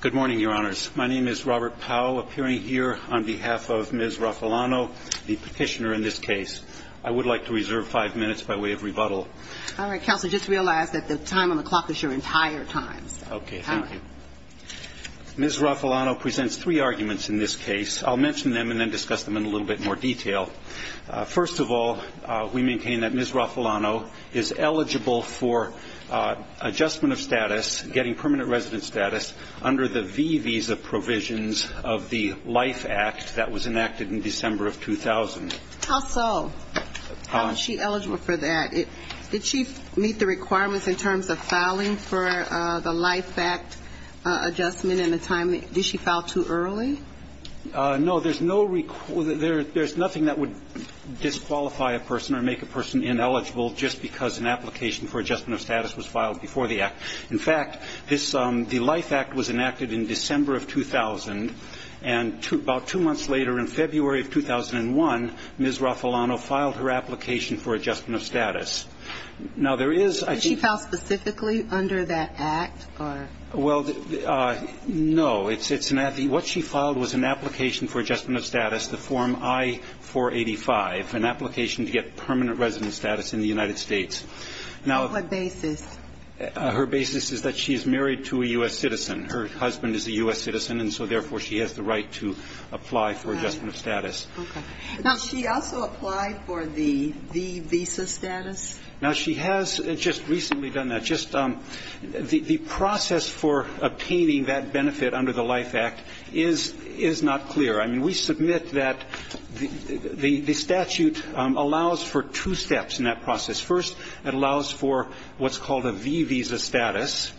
Good morning, Your Honors. My name is Robert Powell, appearing here on behalf of Ms. Raffalano, the petitioner in this case. I would like to reserve five minutes by way of rebuttal. All right, Counselor, just realize that the time on the clock is your entire time. Okay, thank you. Ms. Raffalano presents three arguments in this case. I'll mention them and then discuss them in a little bit more detail. First of all, we maintain that Ms. Raffalano is eligible for adjustment of status, getting permanent resident status, under the V visa provisions of the Life Act that was enacted in December of 2000. How so? How is she eligible for that? Did she meet the requirements in terms of filing for the Life Act adjustment in the time? Did she file too early? No, there's nothing that would disqualify a person or make a person ineligible just because an application for adjustment of status was filed before the act. In fact, the Life Act was enacted in December of 2000, and about two months later, in February of 2001, Ms. Raffalano filed her application for adjustment of status. Well, no. What she filed was an application for adjustment of status, the form I-485, an application to get permanent resident status in the United States. On what basis? Her basis is that she is married to a U.S. citizen. Her husband is a U.S. citizen, and so therefore she has the right to apply for adjustment of status. Okay. Now, does she also apply for the V visa status? Now, she has just recently done that. The process for obtaining that benefit under the Life Act is not clear. I mean, we submit that the statute allows for two steps in that process. First, it allows for what's called a V visa status,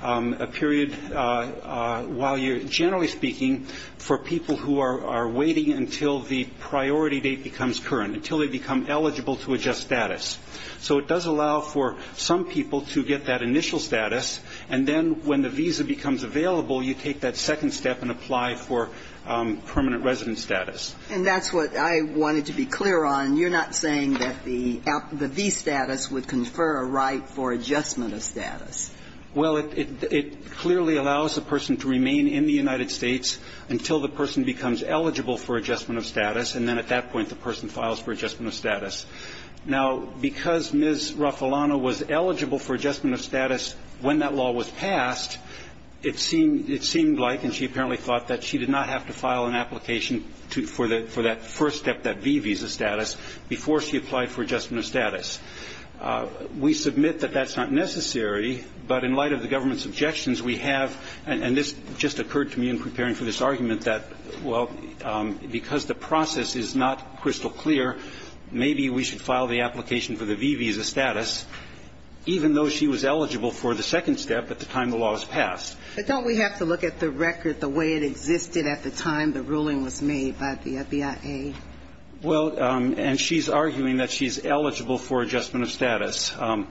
a period, while you're generally speaking, for people who are waiting until the priority date becomes current, until they become eligible to adjust status. So it does allow for some people to get that initial status, and then when the visa becomes available you take that second step and apply for permanent resident status. And that's what I wanted to be clear on. You're not saying that the V status would confer a right for adjustment of status. Well, it clearly allows a person to remain in the United States until the person becomes eligible for adjustment of status, and then at that point the person files for adjustment of status. Now, because Ms. Raffalano was eligible for adjustment of status when that law was passed, it seemed like, and she apparently thought, that she did not have to file an application for that first step, that V visa status, before she applied for adjustment of status. We submit that that's not necessary, but in light of the government's objections we have, and this just occurred to me in preparing for this argument, that, well, because the process is not crystal clear, maybe we should file the application for the V visa status, even though she was eligible for the second step at the time the law was passed. But don't we have to look at the record the way it existed at the time the ruling was made by the BIA? Well, and she's arguing that she's eligible for adjustment of status, and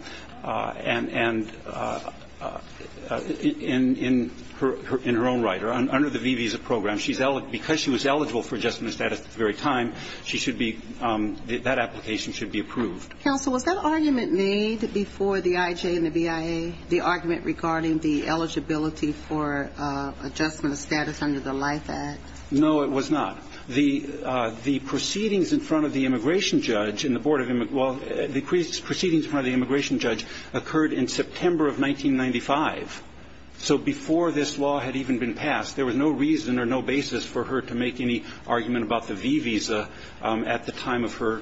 in her own right, or under the V visa program, because she was eligible for adjustment of status at the very time, she should be, that application should be approved. Counsel, was that argument made before the IJ and the BIA, the argument regarding the eligibility for adjustment of status under the LIFE Act? No, it was not. The proceedings in front of the immigration judge in the board of, well, the proceedings in front of the immigration judge occurred in September of 1995. So before this law had even been passed, there was no reason or no basis for her to make any argument about the V visa at the time of her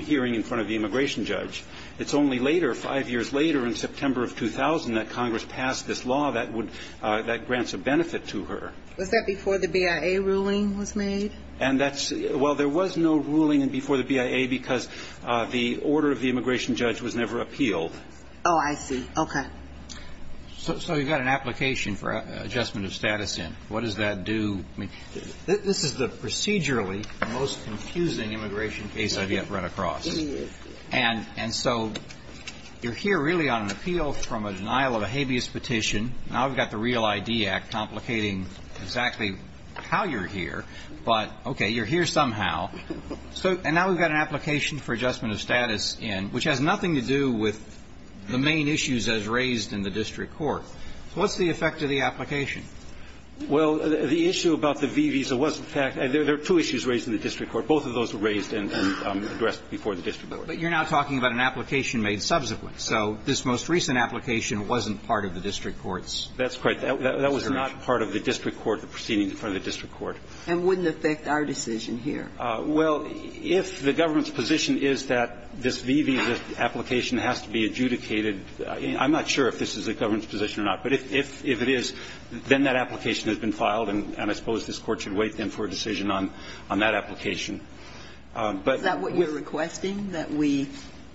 hearing in front of the immigration judge. It's only later, five years later, in September of 2000, that Congress passed this law that would, that grants a benefit to her. Was that before the BIA ruling was made? And that's, well, there was no ruling before the BIA, because the order of the immigration judge was never appealed. Oh, I see. Okay. So you've got an application for adjustment of status in. What does that do? I mean, this is the procedurally most confusing immigration case I've yet run across. It is. And so you're here really on an appeal from a denial of a habeas petition. Now we've got the Real ID Act complicating exactly how you're here. But, okay, you're here somehow. And now we've got an application for adjustment of status in, which has nothing to do with the main issues as raised in the district court. What's the effect of the application? Well, the issue about the V visa was, in fact, there are two issues raised in the district court. Both of those were raised and addressed before the district court. But you're now talking about an application made subsequently. So this most recent application wasn't part of the district court's consideration. That's correct. That was not part of the district court, the proceeding in front of the district And wouldn't affect our decision here. Well, if the government's position is that this V visa application has to be adjudicated I'm not sure if this is the government's position or not. But if it is, then that application has been filed. And I suppose this Court should wait, then, for a decision on that application. But Is that what you're requesting, that we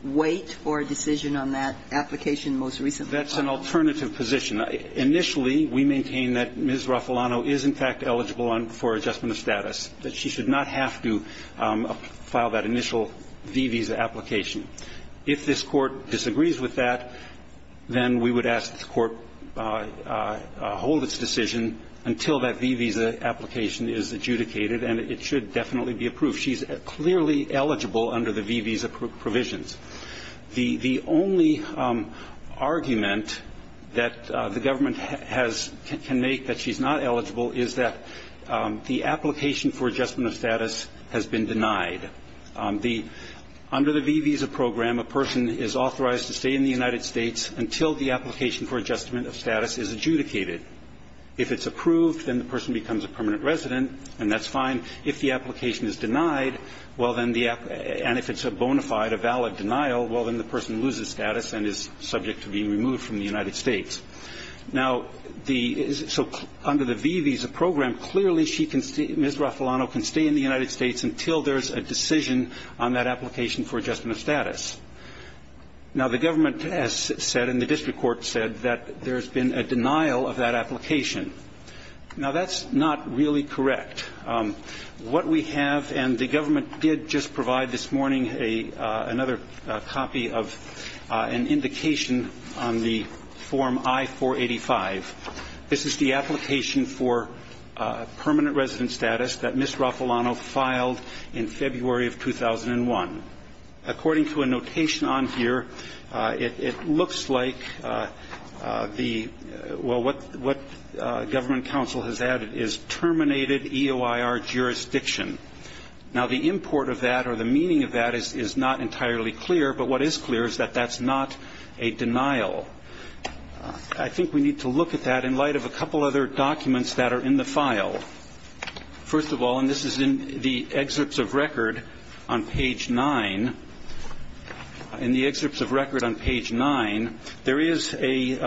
wait for a decision on that application most recently? That's an alternative position. Initially, we maintain that Ms. Raffalano is, in fact, eligible for adjustment of status. That she should not have to file that initial V visa application. If this Court disagrees with that, then we would ask that the Court hold its decision until that V visa application is adjudicated. And it should definitely be approved. She's clearly eligible under the V visa provisions. The only argument that the government can make that she's not eligible is that the application for adjustment of status has been denied. Under the V visa program, a person is authorized to stay in the United States until the application for adjustment of status is adjudicated. If it's approved, then the person becomes a permanent resident, and that's fine. If the application is denied, and if it's a bona fide, a valid denial, well, then the person loses status and is subject to being removed from the United States. Now, under the V visa program, clearly Ms. Raffalano can stay in the United States until there's a decision on that application for adjustment of status. Now, the government has said, and the district court said, that there's been a denial of that application. Now, that's not really correct. What we have, and the government did just provide this morning another copy of an indication on the form I-485. This is the application for permanent resident status that Ms. Raffalano filed in February of 2001. According to a notation on here, it looks like the, well, what government counsel has added is terminated EOIR jurisdiction. Now, the import of that or the meaning of that is not entirely clear, but what is clear is that that's not a denial. I think we need to look at that in light of a couple other documents that are in the file. First of all, and this is in the excerpts of record on page 9, in the excerpts of record on page 9, there is a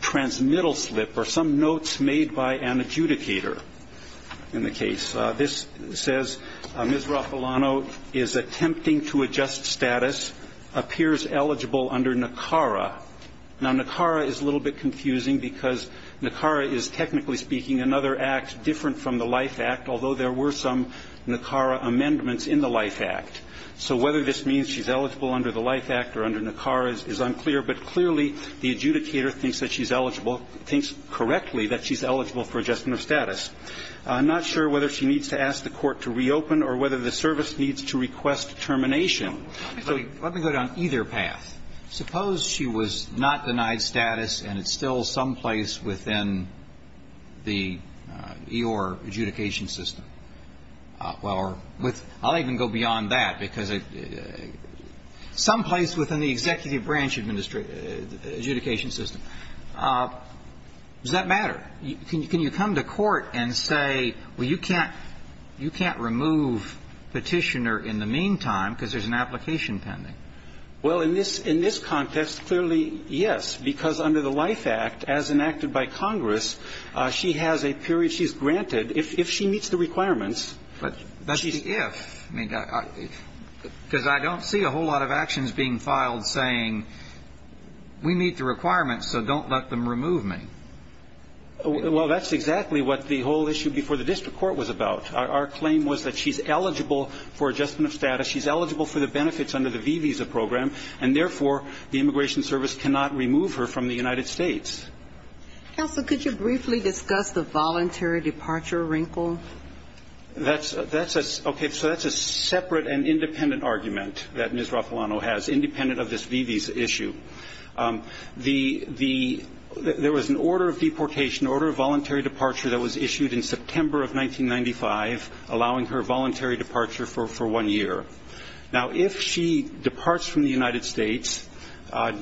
transmittal slip or some notes made by an adjudicator in the case. This says, Ms. Raffalano is attempting to adjust status, appears eligible under NACARA. Now, NACARA is a little bit confusing because NACARA is, technically speaking, another act different from the LIFE Act, although there were some NACARA amendments in the LIFE Act. So whether this means she's eligible under the LIFE Act or under NACARA is unclear, but clearly the adjudicator thinks that she's eligible, thinks correctly that she's eligible for adjustment of status. I'm not sure whether she needs to ask the court to reopen or whether the service needs to request termination. So let me go down either path. Suppose she was not denied status and it's still someplace within the E.O.R. adjudication system. Well, I'll even go beyond that because it's someplace within the executive branch adjudication system. Does that matter? Can you come to court and say, well, you can't remove Petitioner in the meantime because there's an application pending? Well, in this context, clearly, yes, because under the LIFE Act, as enacted by Congress, she has a period she's granted if she meets the requirements. But that's just if. Because I don't see a whole lot of actions being filed saying we meet the requirements so don't let them remove me. Well, that's exactly what the whole issue before the district court was about. Our claim was that she's eligible for adjustment of status. She's eligible for the benefits under the V-Visa program, and therefore the Immigration Service cannot remove her from the United States. Counsel, could you briefly discuss the voluntary departure wrinkle? That's a separate and independent argument that Ms. Raffalano has, independent of this V-Visa issue. There was an order of deportation, an order of voluntary departure that was issued in September of 1995, allowing her voluntary departure for one year. Now, if she departs from the United States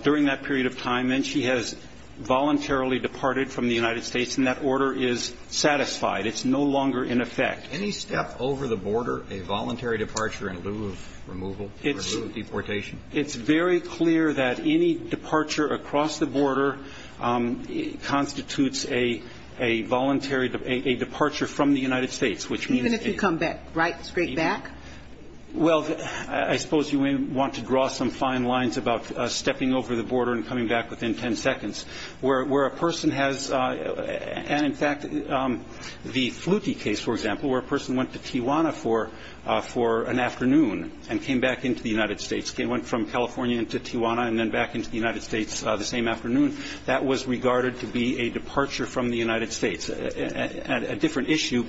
during that period of time and she has voluntarily departed from the United States, then that order is satisfied. It's no longer in effect. Any step over the border, a voluntary departure in lieu of removal, in lieu of deportation? It's very clear that any departure across the border constitutes a voluntary departure from the United States. Even if you come back, right? Straight back? Well, I suppose you may want to draw some fine lines about stepping over the border and coming back within 10 seconds. Where a person has, and in fact, the Fluti case, for example, where a person went to Tijuana for an afternoon and came back into the United States, went from California into Tijuana and then back into the United States the same afternoon, that was regarded to be a departure from the United States. A different issue,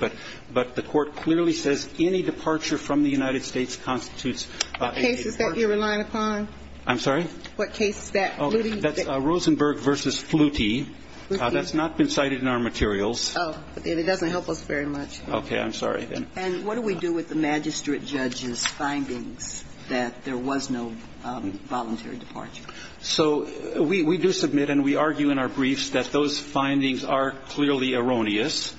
but the Court clearly says any departure from the United States constitutes a departure. What case is that you're relying upon? I'm sorry? What case is that, Fluti? That's Rosenberg v. Fluti. That's not been cited in our materials. Oh. It doesn't help us very much. Okay. I'm sorry. And what do we do with the magistrate judge's findings that there was no voluntary departure? So we do submit and we argue in our briefs that those findings are clearly erroneous.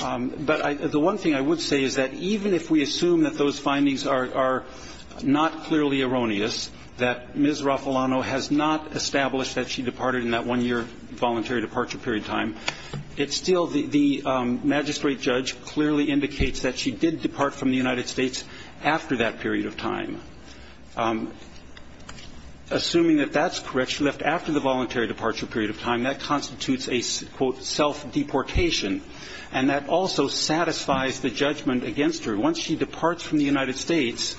But the one thing I would say is that even if we assume that those findings are not clearly erroneous, that Ms. Raffalano has not established that she departed in that one-year voluntary departure period time, it's still the magistrate judge clearly indicates that she did depart from the United States after that period of time. Assuming that that's correct, she left after the voluntary departure period of time, that constitutes a, quote, self-deportation. And that also satisfies the judgment against her. Once she departs from the United States,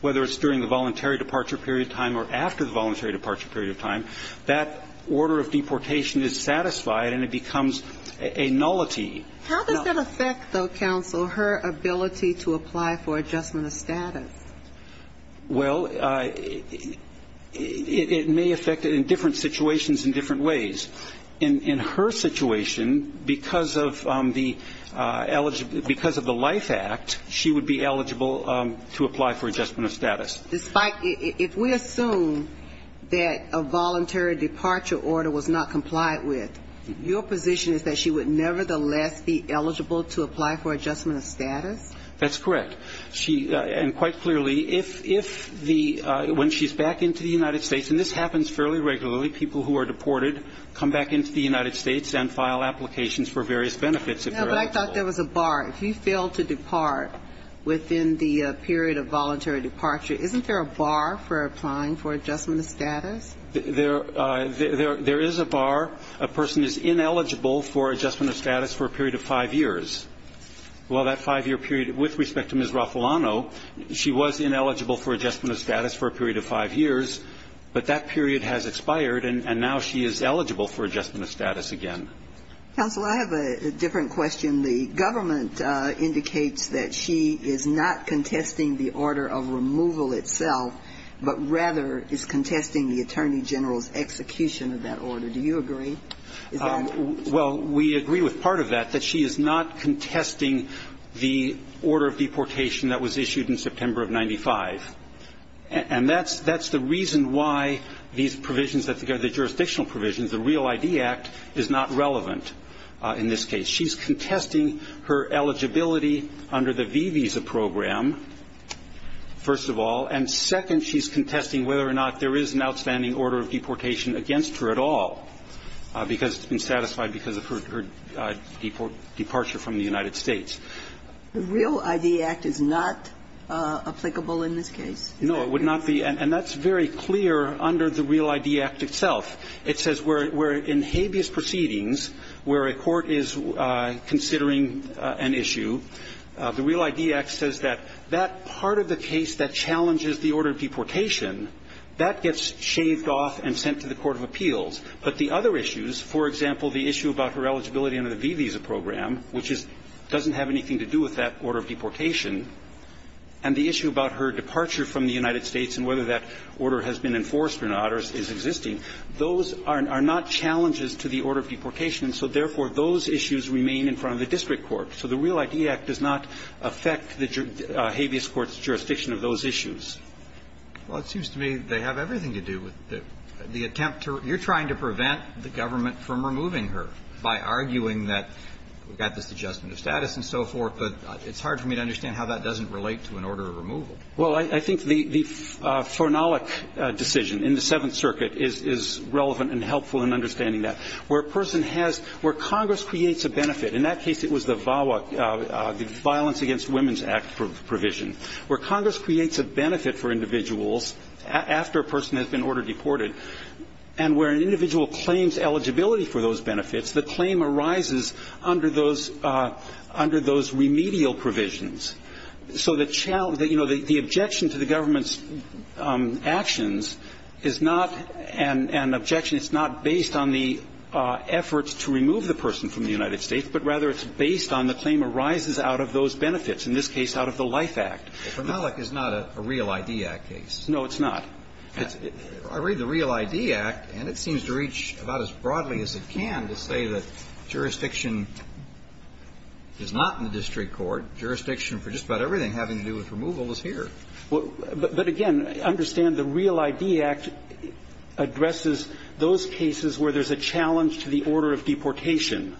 whether it's during the voluntary departure period time or after the voluntary departure period of time, that order of deportation is satisfied and it becomes a nullity. How does that affect, though, counsel, her ability to apply for adjustment of status? Well, it may affect it in different situations in different ways. In her situation, because of the life act, she would be eligible to apply for adjustment of status. If we assume that a voluntary departure order was not complied with, your position is that she would nevertheless be eligible to apply for adjustment of status? That's correct. And quite clearly, if the ñ when she's back into the United States, and this happens fairly regularly, people who are deported come back into the United States and file applications for various benefits if they're eligible. No, but I thought there was a bar. If you fail to depart within the period of voluntary departure, isn't there a bar for applying for adjustment of status? There is a bar. A person is ineligible for adjustment of status for a period of five years. Well, that five-year period, with respect to Ms. Raffalano, she was ineligible for adjustment of status for a period of five years, but that period has expired and now she is eligible for adjustment of status again. Counsel, I have a different question. The government indicates that she is not contesting the order of removal itself, but rather is contesting the Attorney General's execution of that order. Do you agree? Well, we agree with part of that, that she is not contesting the order of deportation that was issued in September of 95. And that's the reason why these provisions, the jurisdictional provisions, the REAL ID Act, is not relevant in this case. She's contesting her eligibility under the V visa program, first of all, and second, she's contesting whether or not there is an outstanding order of deportation against her at all because it's been satisfied because of her departure from the United States. The REAL ID Act is not applicable in this case? No, it would not be. And that's very clear under the REAL ID Act itself. It says where in habeas proceedings where a court is considering an issue, the REAL ID Act says that that part of the case that challenges the order of deportation, that gets shaved off and sent to the court of appeals. But the other issues, for example, the issue about her eligibility under the V visa program, which doesn't have anything to do with that order of deportation, and the issue about her departure from the United States and whether that order has been enforced or not is existing, those are not challenges to the order of deportation. And so, therefore, those issues remain in front of the district court. So the REAL ID Act does not affect the habeas court's jurisdiction of those issues. Well, it seems to me they have everything to do with the attempt to you're trying to prevent the government from removing her by arguing that we've got this adjustment of status and so forth. But it's hard for me to understand how that doesn't relate to an order of removal. Well, I think the Flournolic decision in the Seventh Circuit is relevant and helpful in understanding that. Where a person has – where Congress creates a benefit – in that case, it was the VAWA, the Violence Against Women's Act provision. Where Congress creates a benefit for individuals after a person has been ordered deported, and where an individual claims eligibility for those benefits, the claim arises under those – under those remedial provisions. So the – you know, the objection to the government's actions is not an objection – it's not based on the efforts to remove the person from the United States, but rather it's based on the claim arises out of those benefits, in this case, out of the LIFE Act. Well, Flournolic is not a REAL ID Act case. No, it's not. I read the REAL ID Act, and it seems to reach about as broadly as it can to say that is not in the district court. Jurisdiction for just about everything having to do with removal is here. Well, but again, understand the REAL ID Act addresses those cases where there's a challenge to the order of deportation.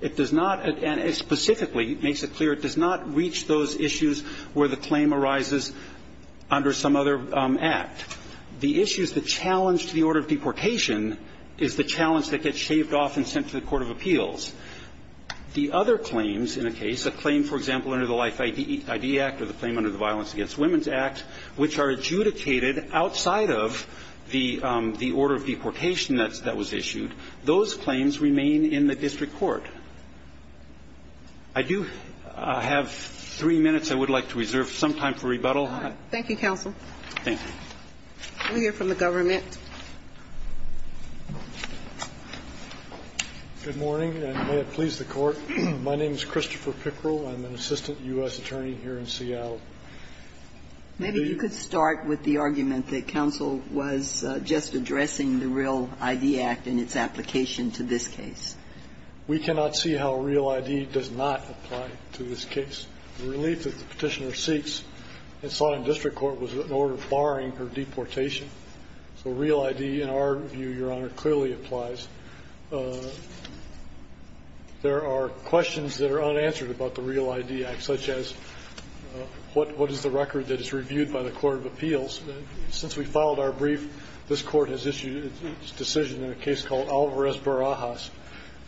It does not – and it specifically makes it clear it does not reach those issues where the claim arises under some other act. The issue is the challenge to the order of deportation is the challenge that gets shaved off and sent to the court of appeals. The other claims in a case, a claim, for example, under the LIFE ID Act or the claim under the Violence Against Women's Act, which are adjudicated outside of the order of deportation that was issued, those claims remain in the district court. I do have three minutes I would like to reserve, some time for rebuttal. Thank you, counsel. Thank you. We'll hear from the government. Good morning, and may it please the Court. My name is Christopher Pickrell. I'm an assistant U.S. attorney here in Seattle. Maybe you could start with the argument that counsel was just addressing the REAL ID Act and its application to this case. We cannot see how REAL ID does not apply to this case. The relief that the Petitioner seeks in Sodom District Court was an order barring her deportation. So REAL ID, in our view, Your Honor, clearly applies. There are questions that are unanswered about the REAL ID Act, such as what is the record that is reviewed by the court of appeals? Since we filed our brief, this Court has issued a decision in a case called Alvarez Barajas,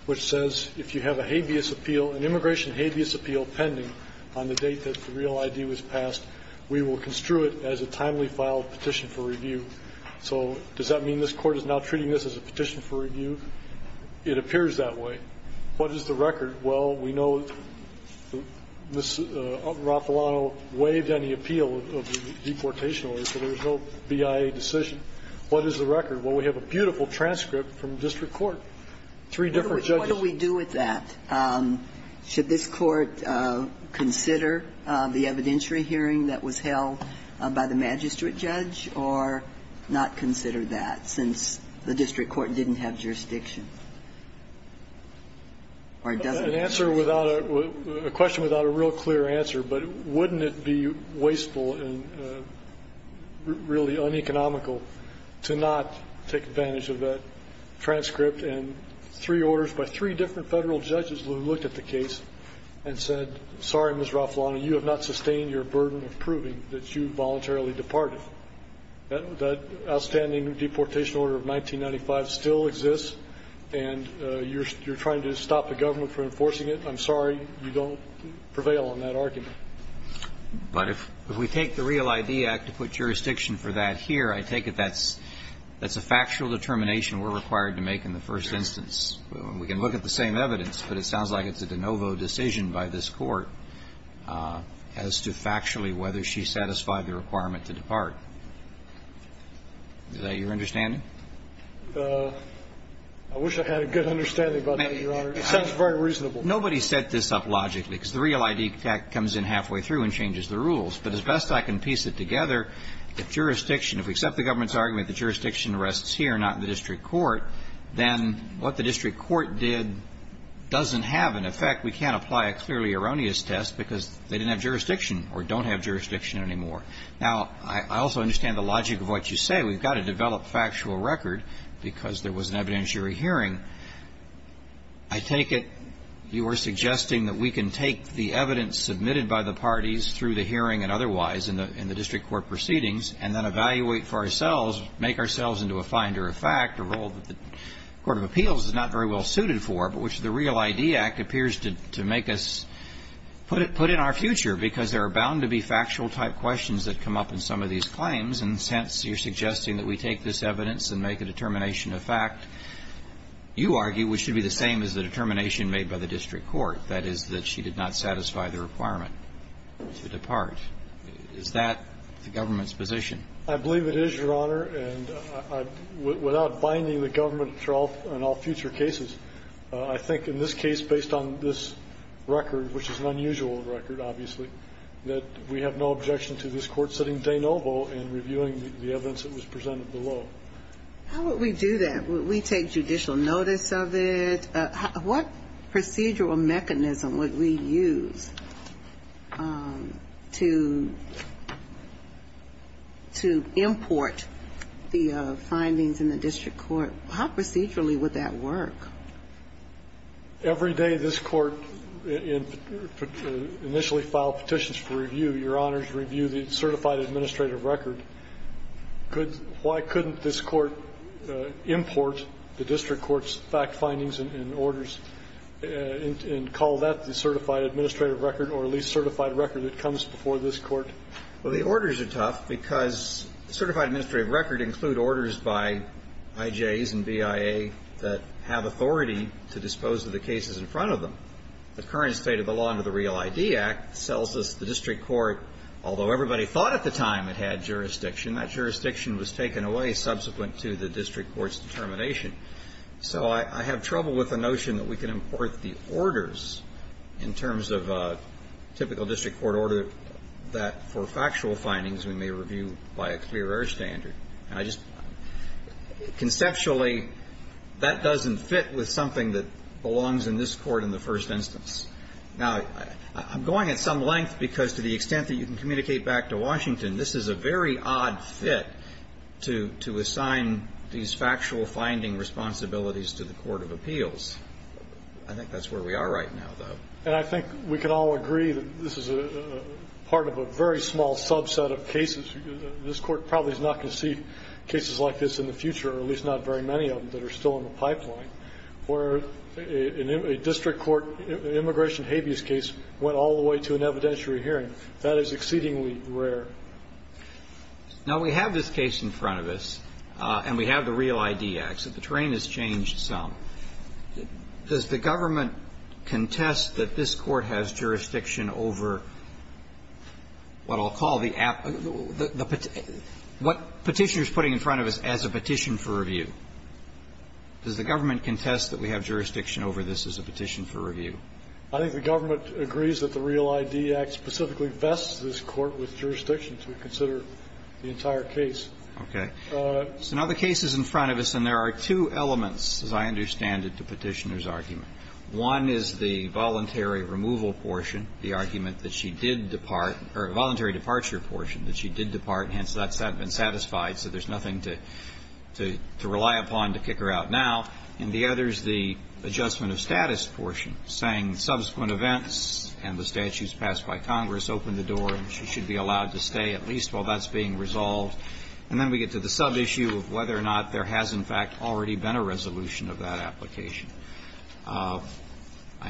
which says if you have a habeas appeal, an immigration habeas appeal pending on the date that the REAL ID was passed, we will construe it as a timely filed petition for review. So does that mean this Court is now treating this as a petition for review? It appears that way. What is the record? Well, we know Ms. Raffalano waived any appeal of the deportation order, so there is no BIA decision. What is the record? Well, we have a beautiful transcript from district court, three different judges. What do we do with that? Should this Court consider the evidentiary hearing that was held by the magistrate judge, or not consider that since the district court didn't have jurisdiction? Or does it? An answer without a question without a real clear answer, but wouldn't it be wasteful and really uneconomical to not take advantage of that transcript and three orders by three different federal judges who looked at the case and said, sorry, Ms. Raffalano, you have not sustained your burden of proving that you voluntarily departed. That outstanding deportation order of 1995 still exists, and you're trying to stop the government from enforcing it. I'm sorry you don't prevail on that argument. But if we take the REAL ID Act to put jurisdiction for that here, I take it that's a factual determination we're required to make in the first instance. We can look at the same evidence, but it sounds like it's a de novo decision by this Court as to factually whether she satisfied the requirement to depart. Is that your understanding? I wish I had a good understanding about that, Your Honor. It sounds very reasonable. Nobody set this up logically, because the REAL ID Act comes in halfway through and changes the rules. But as best I can piece it together, if jurisdiction, if we accept the government's requests here, not in the district court, then what the district court did doesn't have an effect. We can't apply a clearly erroneous test because they didn't have jurisdiction or don't have jurisdiction anymore. Now, I also understand the logic of what you say. We've got to develop factual record because there was an evidentiary hearing. I take it you are suggesting that we can take the evidence submitted by the parties through the hearing and otherwise in the district court proceedings and then evaluate for ourselves, make ourselves into a finder of fact, a role that the court of appeals is not very well suited for, but which the REAL ID Act appears to make us put in our future because there are bound to be factual-type questions that come up in some of these claims. And since you're suggesting that we take this evidence and make a determination of fact, you argue we should be the same as the determination made by the district court, that is, that she did not satisfy the requirement to depart. Is that the government's position? I believe it is, Your Honor, and without binding the government in all future cases, I think in this case, based on this record, which is an unusual record, obviously, that we have no objection to this Court sitting de novo and reviewing the evidence that was presented below. How would we do that? Would we take judicial notice of it? What procedural mechanism would we use to import the findings in the district court? How procedurally would that work? Every day this Court initially filed petitions for review, Your Honor, to review the certified administrative record, why couldn't this Court import the district court's fact findings and orders and call that the certified administrative record or at least certified record that comes before this Court? Well, the orders are tough because certified administrative record include orders by IJs and BIA that have authority to dispose of the cases in front of them. The current state of the law under the Real ID Act tells us the district court, although everybody thought at the time it had jurisdiction, that jurisdiction was taken away subsequent to the district court's determination. So I have trouble with the notion that we can import the orders in terms of a typical district court order that, for factual findings, we may review by a clear air standard. And I just – conceptually, that doesn't fit with something that belongs in this Court in the first instance. Now, I'm going at some length because to the extent that you can communicate back to Washington, this is a very odd fit to assign these factual finding responsibilities to the court of appeals. I think that's where we are right now, though. And I think we can all agree that this is a part of a very small subset of cases. This Court probably is not going to see cases like this in the future, or at least not very many of them, that are still in the pipeline, where a district court immigration habeas case went all the way to an evidentiary hearing. That is exceedingly rare. Roberts. Now, we have this case in front of us, and we have the Real ID Act, so the terrain has changed some. Does the government contest that this Court has jurisdiction over what I'll call the app – what Petitioner is putting in front of us as a petition for review? Does the government contest that we have jurisdiction over this as a petition for review? I think the government agrees that the Real ID Act specifically vests this Court with jurisdiction to consider the entire case. Okay. So now the case is in front of us, and there are two elements, as I understand it, to Petitioner's argument. One is the voluntary removal portion, the argument that she did depart – or voluntary departure portion, that she did depart, hence that's not been satisfied, so there's one that we can rely upon to kick her out now, and the other is the adjustment of status portion, saying subsequent events and the statutes passed by Congress opened the door and she should be allowed to stay at least while that's being resolved. And then we get to the sub-issue of whether or not there has, in fact, already been a resolution of that application. I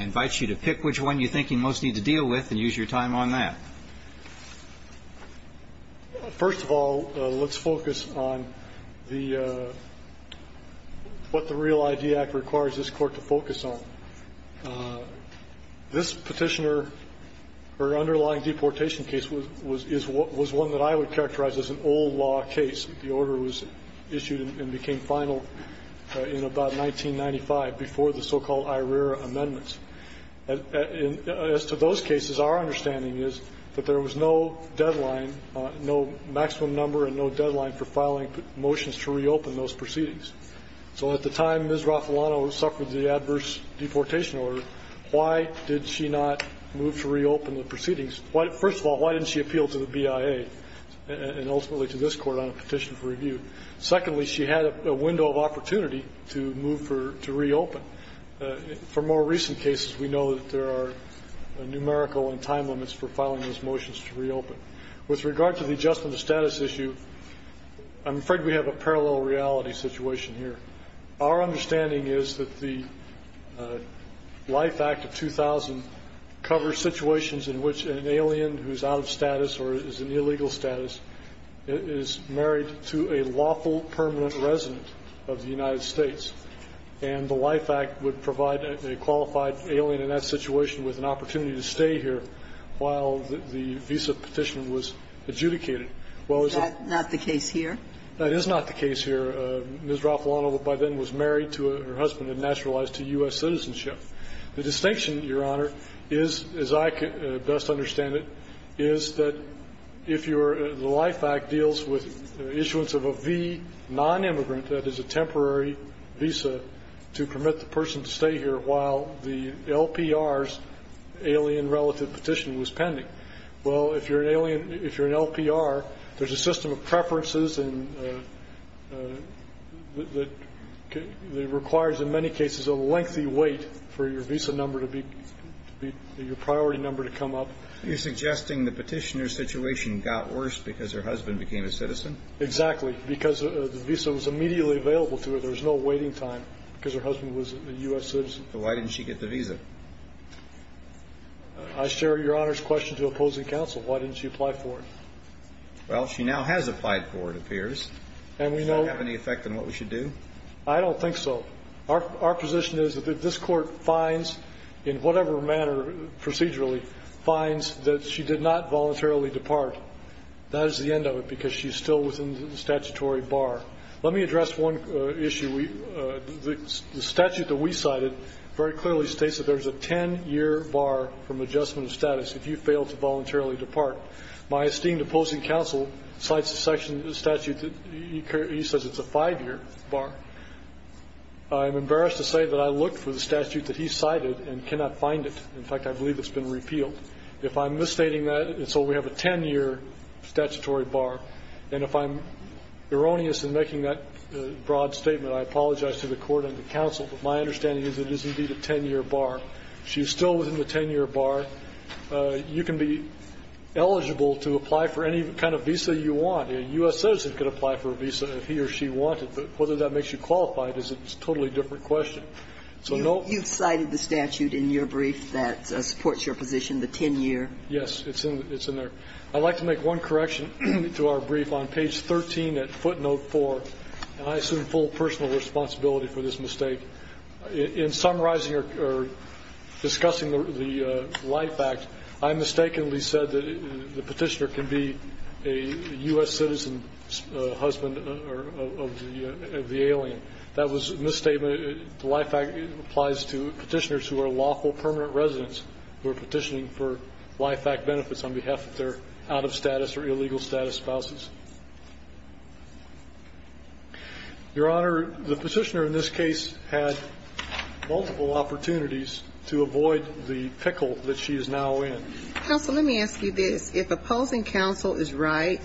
invite you to pick which one you think you most need to deal with and use your time on that. First of all, let's focus on the – what the Real ID Act requires this Court to focus on. This Petitioner, her underlying deportation case was one that I would characterize as an old law case. The order was issued and became final in about 1995 before the so-called IRERA amendments. As to those cases, our understanding is that there was no deadline, no maximum number and no deadline for filing motions to reopen those proceedings. So at the time Ms. Raffalano suffered the adverse deportation order, why did she not move to reopen the proceedings? First of all, why didn't she appeal to the BIA and ultimately to this Court on a petition for review? Secondly, she had a window of opportunity to move for – to reopen. For more recent cases, we know that there are numerical and time limits for filing these motions to reopen. With regard to the adjustment of status issue, I'm afraid we have a parallel reality situation here. Our understanding is that the Life Act of 2000 covers situations in which an alien who is out of status or is in illegal status is married to a lawful permanent resident of the United States. And the Life Act would provide a qualified alien in that situation with an opportunity to stay here while the visa petition was adjudicated. Well, as a – Is that not the case here? That is not the case here. Ms. Raffalano by then was married to her husband and naturalized to U.S. citizenship. The distinction, Your Honor, is, as I best understand it, is that if you're – the non-immigrant that has a temporary visa to permit the person to stay here while the LPR's alien-relative petition was pending, well, if you're an alien – if you're an LPR, there's a system of preferences and – that requires, in many cases, a lengthy wait for your visa number to be – your priority number to come up. Are you suggesting the petitioner's situation got worse because her husband became a citizen? Exactly. Because the visa was immediately available to her. There was no waiting time because her husband was a U.S. citizen. So why didn't she get the visa? I share Your Honor's question to opposing counsel. Why didn't she apply for it? Well, she now has applied for it, it appears. And we know – Does that have any effect on what we should do? I don't think so. Our position is that if this Court finds, in whatever manner procedurally, finds that she did not voluntarily depart, that is the end of it because she still is within the statutory bar. Let me address one issue. The statute that we cited very clearly states that there's a 10-year bar from adjustment of status if you fail to voluntarily depart. My esteemed opposing counsel cites a section of the statute that he says it's a 5-year bar. I'm embarrassed to say that I looked for the statute that he cited and cannot find it. In fact, I believe it's been repealed. If I'm misstating that, and so we have a 10-year statutory bar, and if I'm erroneous in making that broad statement, I apologize to the Court and the counsel. But my understanding is it is indeed a 10-year bar. She's still within the 10-year bar. You can be eligible to apply for any kind of visa you want. A U.S. citizen could apply for a visa if he or she wanted. But whether that makes you qualified is a totally different question. So no – The statute in your brief that supports your position, the 10-year. Yes, it's in there. I'd like to make one correction to our brief. On page 13 at footnote 4, and I assume full personal responsibility for this mistake, in summarizing or discussing the Life Act, I mistakenly said that the Petitioner can be a U.S. citizen's husband of the alien. That was a misstatement. The Life Act applies to Petitioners who are lawful permanent residents who are petitioning for Life Act benefits on behalf of their out-of-status or illegal-status spouses. Your Honor, the Petitioner in this case had multiple opportunities to avoid the pickle that she is now in. Counsel, let me ask you this. If opposing counsel is right,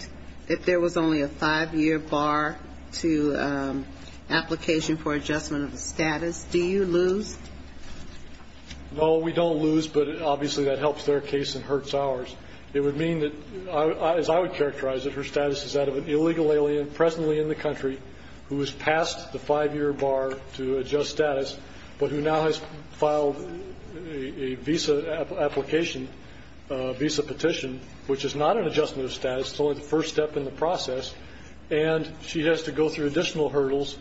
if there was only a 5-year bar to application for adjustment of the status, do you lose? No, we don't lose, but obviously that helps their case and hurts ours. It would mean that, as I would characterize it, her status is that of an illegal alien presently in the country who has passed the 5-year bar to adjust status, but who now has filed a visa application, a visa petition, which is not an adjustment of status. It's only the first step in the process. And she has to go through additional hurdles,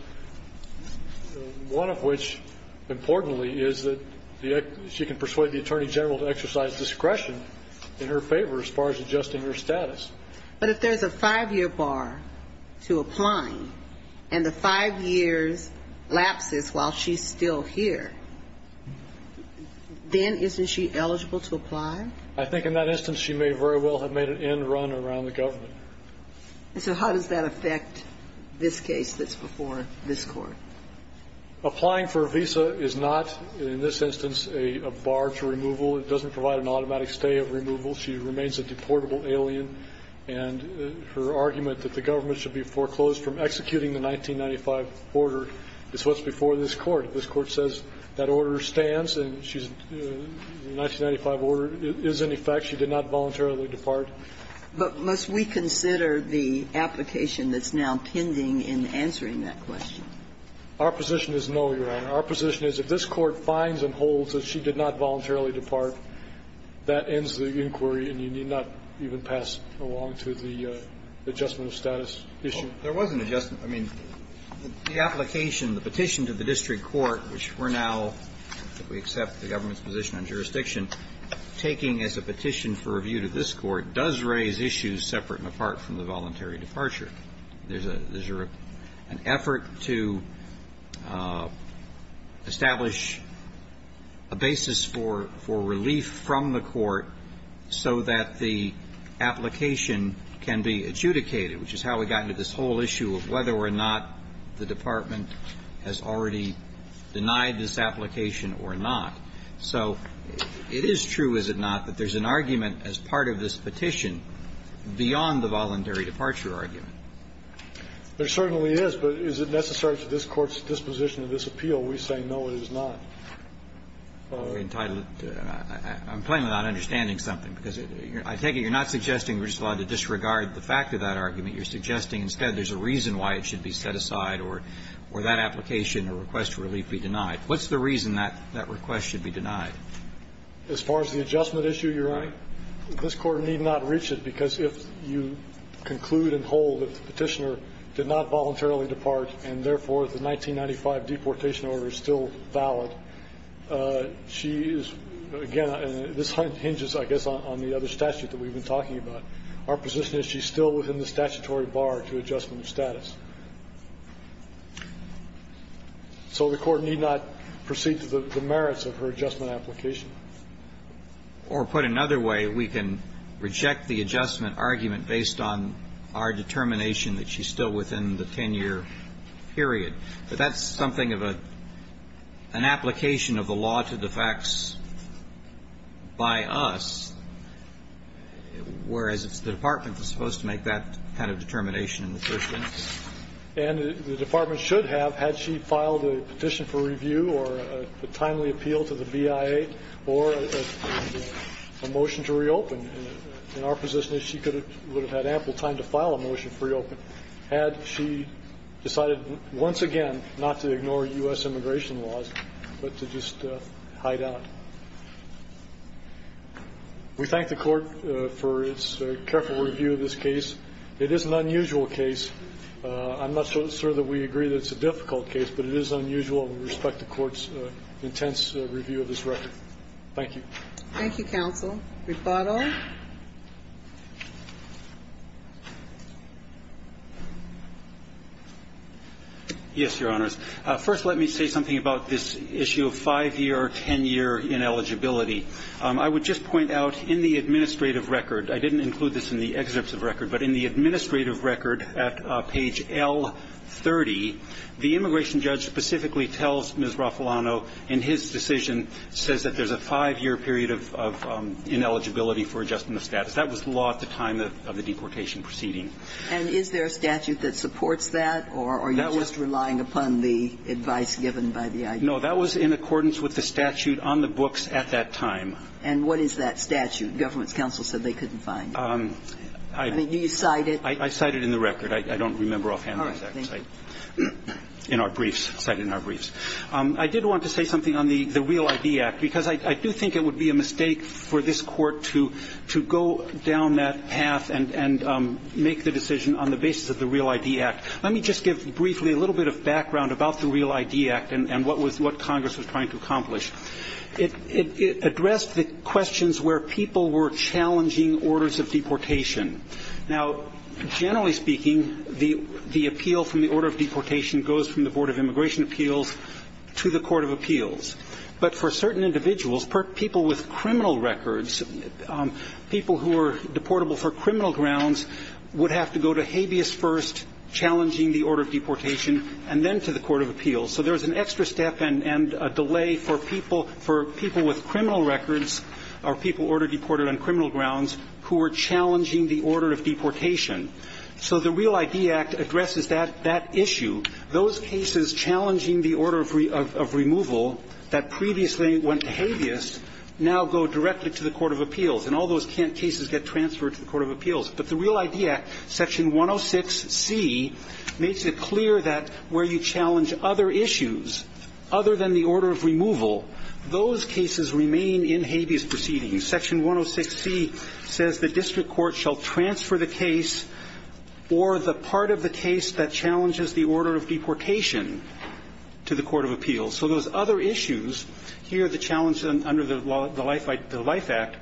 one of which, importantly, is that she can persuade the Attorney General to exercise discretion in her favor as far as adjusting her status. But if there's a 5-year bar to applying and the 5 years lapses while she's still here, then isn't she eligible to apply? I think in that instance she may very well have made an end run around the government. And so how does that affect this case that's before this Court? Applying for a visa is not, in this instance, a bar to removal. It doesn't provide an automatic stay of removal. She remains a deportable alien. And her argument that the government should be foreclosed from executing the 1995 order is what's before this Court. This Court says that order stands and she's 1995 order is in effect. She did not voluntarily depart. But must we consider the application that's now pending in answering that question? Our position is no, Your Honor. Our position is if this Court finds and holds that she did not voluntarily depart, that ends the inquiry and you need not even pass along to the adjustment of status issue. There was an adjustment. I mean, the application, the petition to the district court, which we're now, we accept the government's position on jurisdiction, taking as a petition for review to this Court does raise issues separate and apart from the voluntary departure. There's an effort to establish a basis for relief from the Court so that the application can be adjudicated, which is how we got into this whole issue of whether or not the Department has already denied this application or not. So it is true, is it not, that there's an argument as part of this petition beyond the voluntary departure argument? There certainly is. But is it necessary to this Court's disposition of this appeal? We say no, it is not. Entitled. I'm plainly not understanding something, because I take it you're not suggesting we're just allowed to disregard the fact of that argument. You're suggesting instead there's a reason why it should be set aside or that application or request for relief be denied. What's the reason that request should be denied? As far as the adjustment issue, Your Honor, this Court need not reach it, because if you conclude and hold that the Petitioner did not voluntarily depart and, therefore, the 1995 deportation order is still valid, she is, again, and this hinges, I guess, on the other statute that we've been talking about. Our position is she's still within the statutory bar to adjustment of status. So the Court need not proceed to the merits of her adjustment application. Or put another way, we can reject the adjustment argument based on our determination that she's still within the 10-year period. But that's something of an application of the law to the facts by us, whereas the Department was supposed to make that kind of determination in the first place. And the Department should have, had she filed a petition for review or a timely appeal to the BIA or a motion to reopen, and our position is she would have had ample time to file a motion to reopen, had she decided once again not to ignore U.S. immigration laws, but to just hide out. We thank the Court for its careful review of this case. It is an unusual case. I'm not so sure that we agree that it's a difficult case, but it is unusual, and we look forward to an intense review of this record. Thank you. Thank you, counsel. Rebuttal. Yes, Your Honors. First, let me say something about this issue of 5-year or 10-year ineligibility. I would just point out in the administrative record, I didn't include this in the excerpts of record, but in the administrative record at page L30, the immigration judge specifically tells Ms. Raffalano in his decision, says that there's a 5-year period of ineligibility for adjustment of status. That was the law at the time of the deportation proceeding. And is there a statute that supports that, or are you just relying upon the advice given by the IG? No. That was in accordance with the statute on the books at that time. And what is that statute? Government's counsel said they couldn't find it. I mean, do you cite it? I cite it in the record. I don't remember offhand. All right. Thank you. In our briefs. Cited in our briefs. I did want to say something on the Real ID Act, because I do think it would be a mistake for this Court to go down that path and make the decision on the basis of the Real ID Act. Let me just give briefly a little bit of background about the Real ID Act and what Congress was trying to accomplish. It addressed the questions where people were challenging orders of deportation. Now, generally speaking, the appeal from the order of deportation goes from the Board of Immigration Appeals to the Court of Appeals. But for certain individuals, people with criminal records, people who are deportable for criminal grounds would have to go to habeas first, challenging the order of deportation, and then to the Court of Appeals. So there's an extra step and a delay for people with criminal records or people who are challenging the order of deportation. So the Real ID Act addresses that issue. Those cases challenging the order of removal that previously went to habeas now go directly to the Court of Appeals, and all those cases get transferred to the Court of Appeals. But the Real ID Act, Section 106C, makes it clear that where you challenge other issues other than the order of removal, those cases remain in habeas proceedings. Section 106C says the district court shall transfer the case or the part of the case that challenges the order of deportation to the Court of Appeals. So those other issues, here the challenge under the Life Act,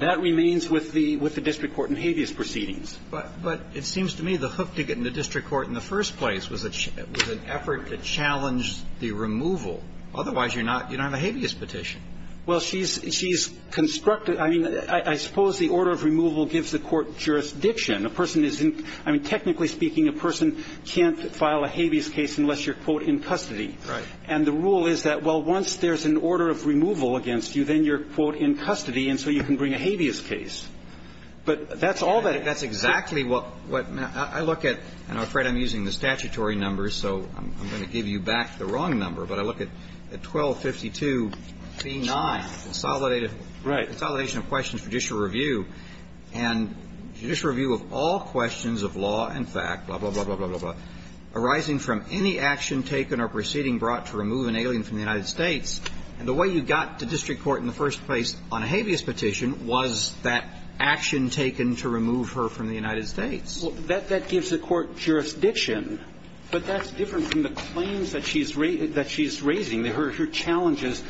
that remains with the district court in habeas proceedings. But it seems to me the hook to getting the district court in the first place was an effort to challenge the removal. Otherwise, you're not on a habeas petition. Well, she's constructed. I mean, I suppose the order of removal gives the court jurisdiction. A person is in ‑‑ I mean, technically speaking, a person can't file a habeas case unless you're, quote, in custody. Right. And the rule is that, well, once there's an order of removal against you, then you're, quote, in custody, and so you can bring a habeas case. But that's all that ‑‑ That's exactly what ‑‑ I look at, and I'm afraid I'm using the statutory numbers, so I'm going to give you back the wrong number, but I look at 1252b9, consolidated ‑‑ Right. Consolidation of questions for judicial review. And judicial review of all questions of law and fact, blah, blah, blah, blah, blah, blah, arising from any action taken or proceeding brought to remove an alien from that action taken to remove her from the United States. Well, that gives the court jurisdiction. But that's different from the claims that she's raising. Her challenges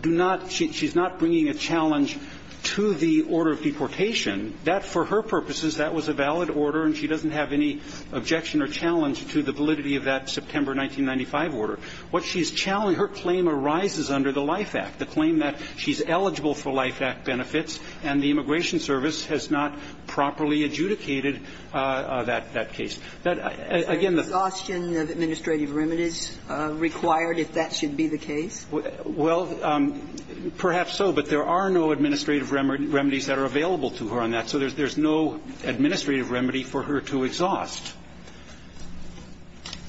do not ‑‑ she's not bringing a challenge to the order of deportation. That, for her purposes, that was a valid order, and she doesn't have any objection or challenge to the validity of that September 1995 order. What she's challenging, her claim arises under the LIFE Act, the claim that she's eligible for LIFE Act benefits, and the Immigration Service has not properly adjudicated that case. Again, the ‑‑ Is there exhaustion of administrative remedies required if that should be the case? Well, perhaps so, but there are no administrative remedies that are available to her on that, so there's no administrative remedy for her to exhaust.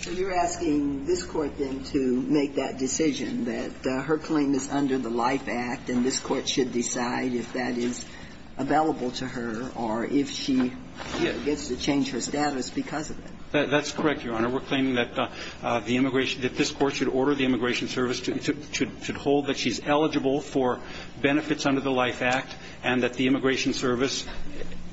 So you're asking this Court, then, to make that decision, that her claim is under the LIFE Act, and this Court should decide if that is available to her or if she gets to change her status because of it? That's correct, Your Honor. We're claiming that the immigration ‑‑ that this Court should order the Immigration Service to hold that she's eligible for benefits under the LIFE Act and that the Immigration Service,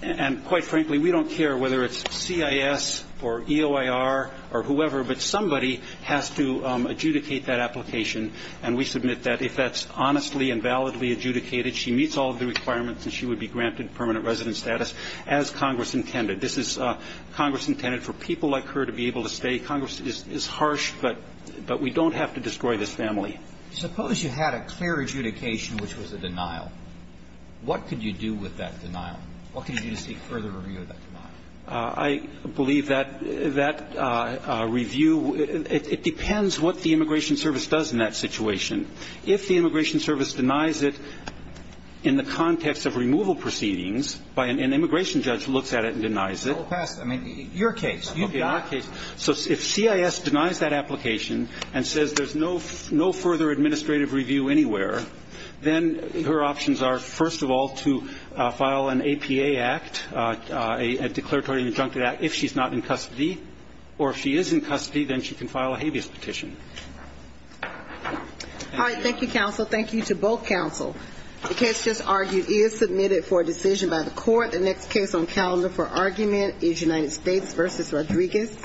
and quite frankly, we don't care whether it's CIS or EOIR or whoever, but somebody has to adjudicate that application, and we submit that if that's honestly and validly adjudicated, she meets all of the requirements and she would be granted permanent resident status as Congress intended. This is Congress intended for people like her to be able to stay. Congress is harsh, but we don't have to destroy this family. Suppose you had a clear adjudication which was a denial. What could you do with that denial? What could you do to seek further review of that denial? I believe that that review ‑‑ it depends what the Immigration Service does in that situation. If the Immigration Service denies it in the context of removal proceedings by an immigration judge who looks at it and denies it ‑‑ Well, pass it. I mean, your case. Okay. So if CIS denies that application and says there's no further administrative review anywhere, then her options are, first of all, to file an APA Act, a declaration injunctive act, if she's not in custody. Or if she is in custody, then she can file a habeas petition. All right. Thank you, counsel. Thank you to both counsel. The case just argued is submitted for decision by the court. The next case on calendar for argument is United States v. Rodriguez.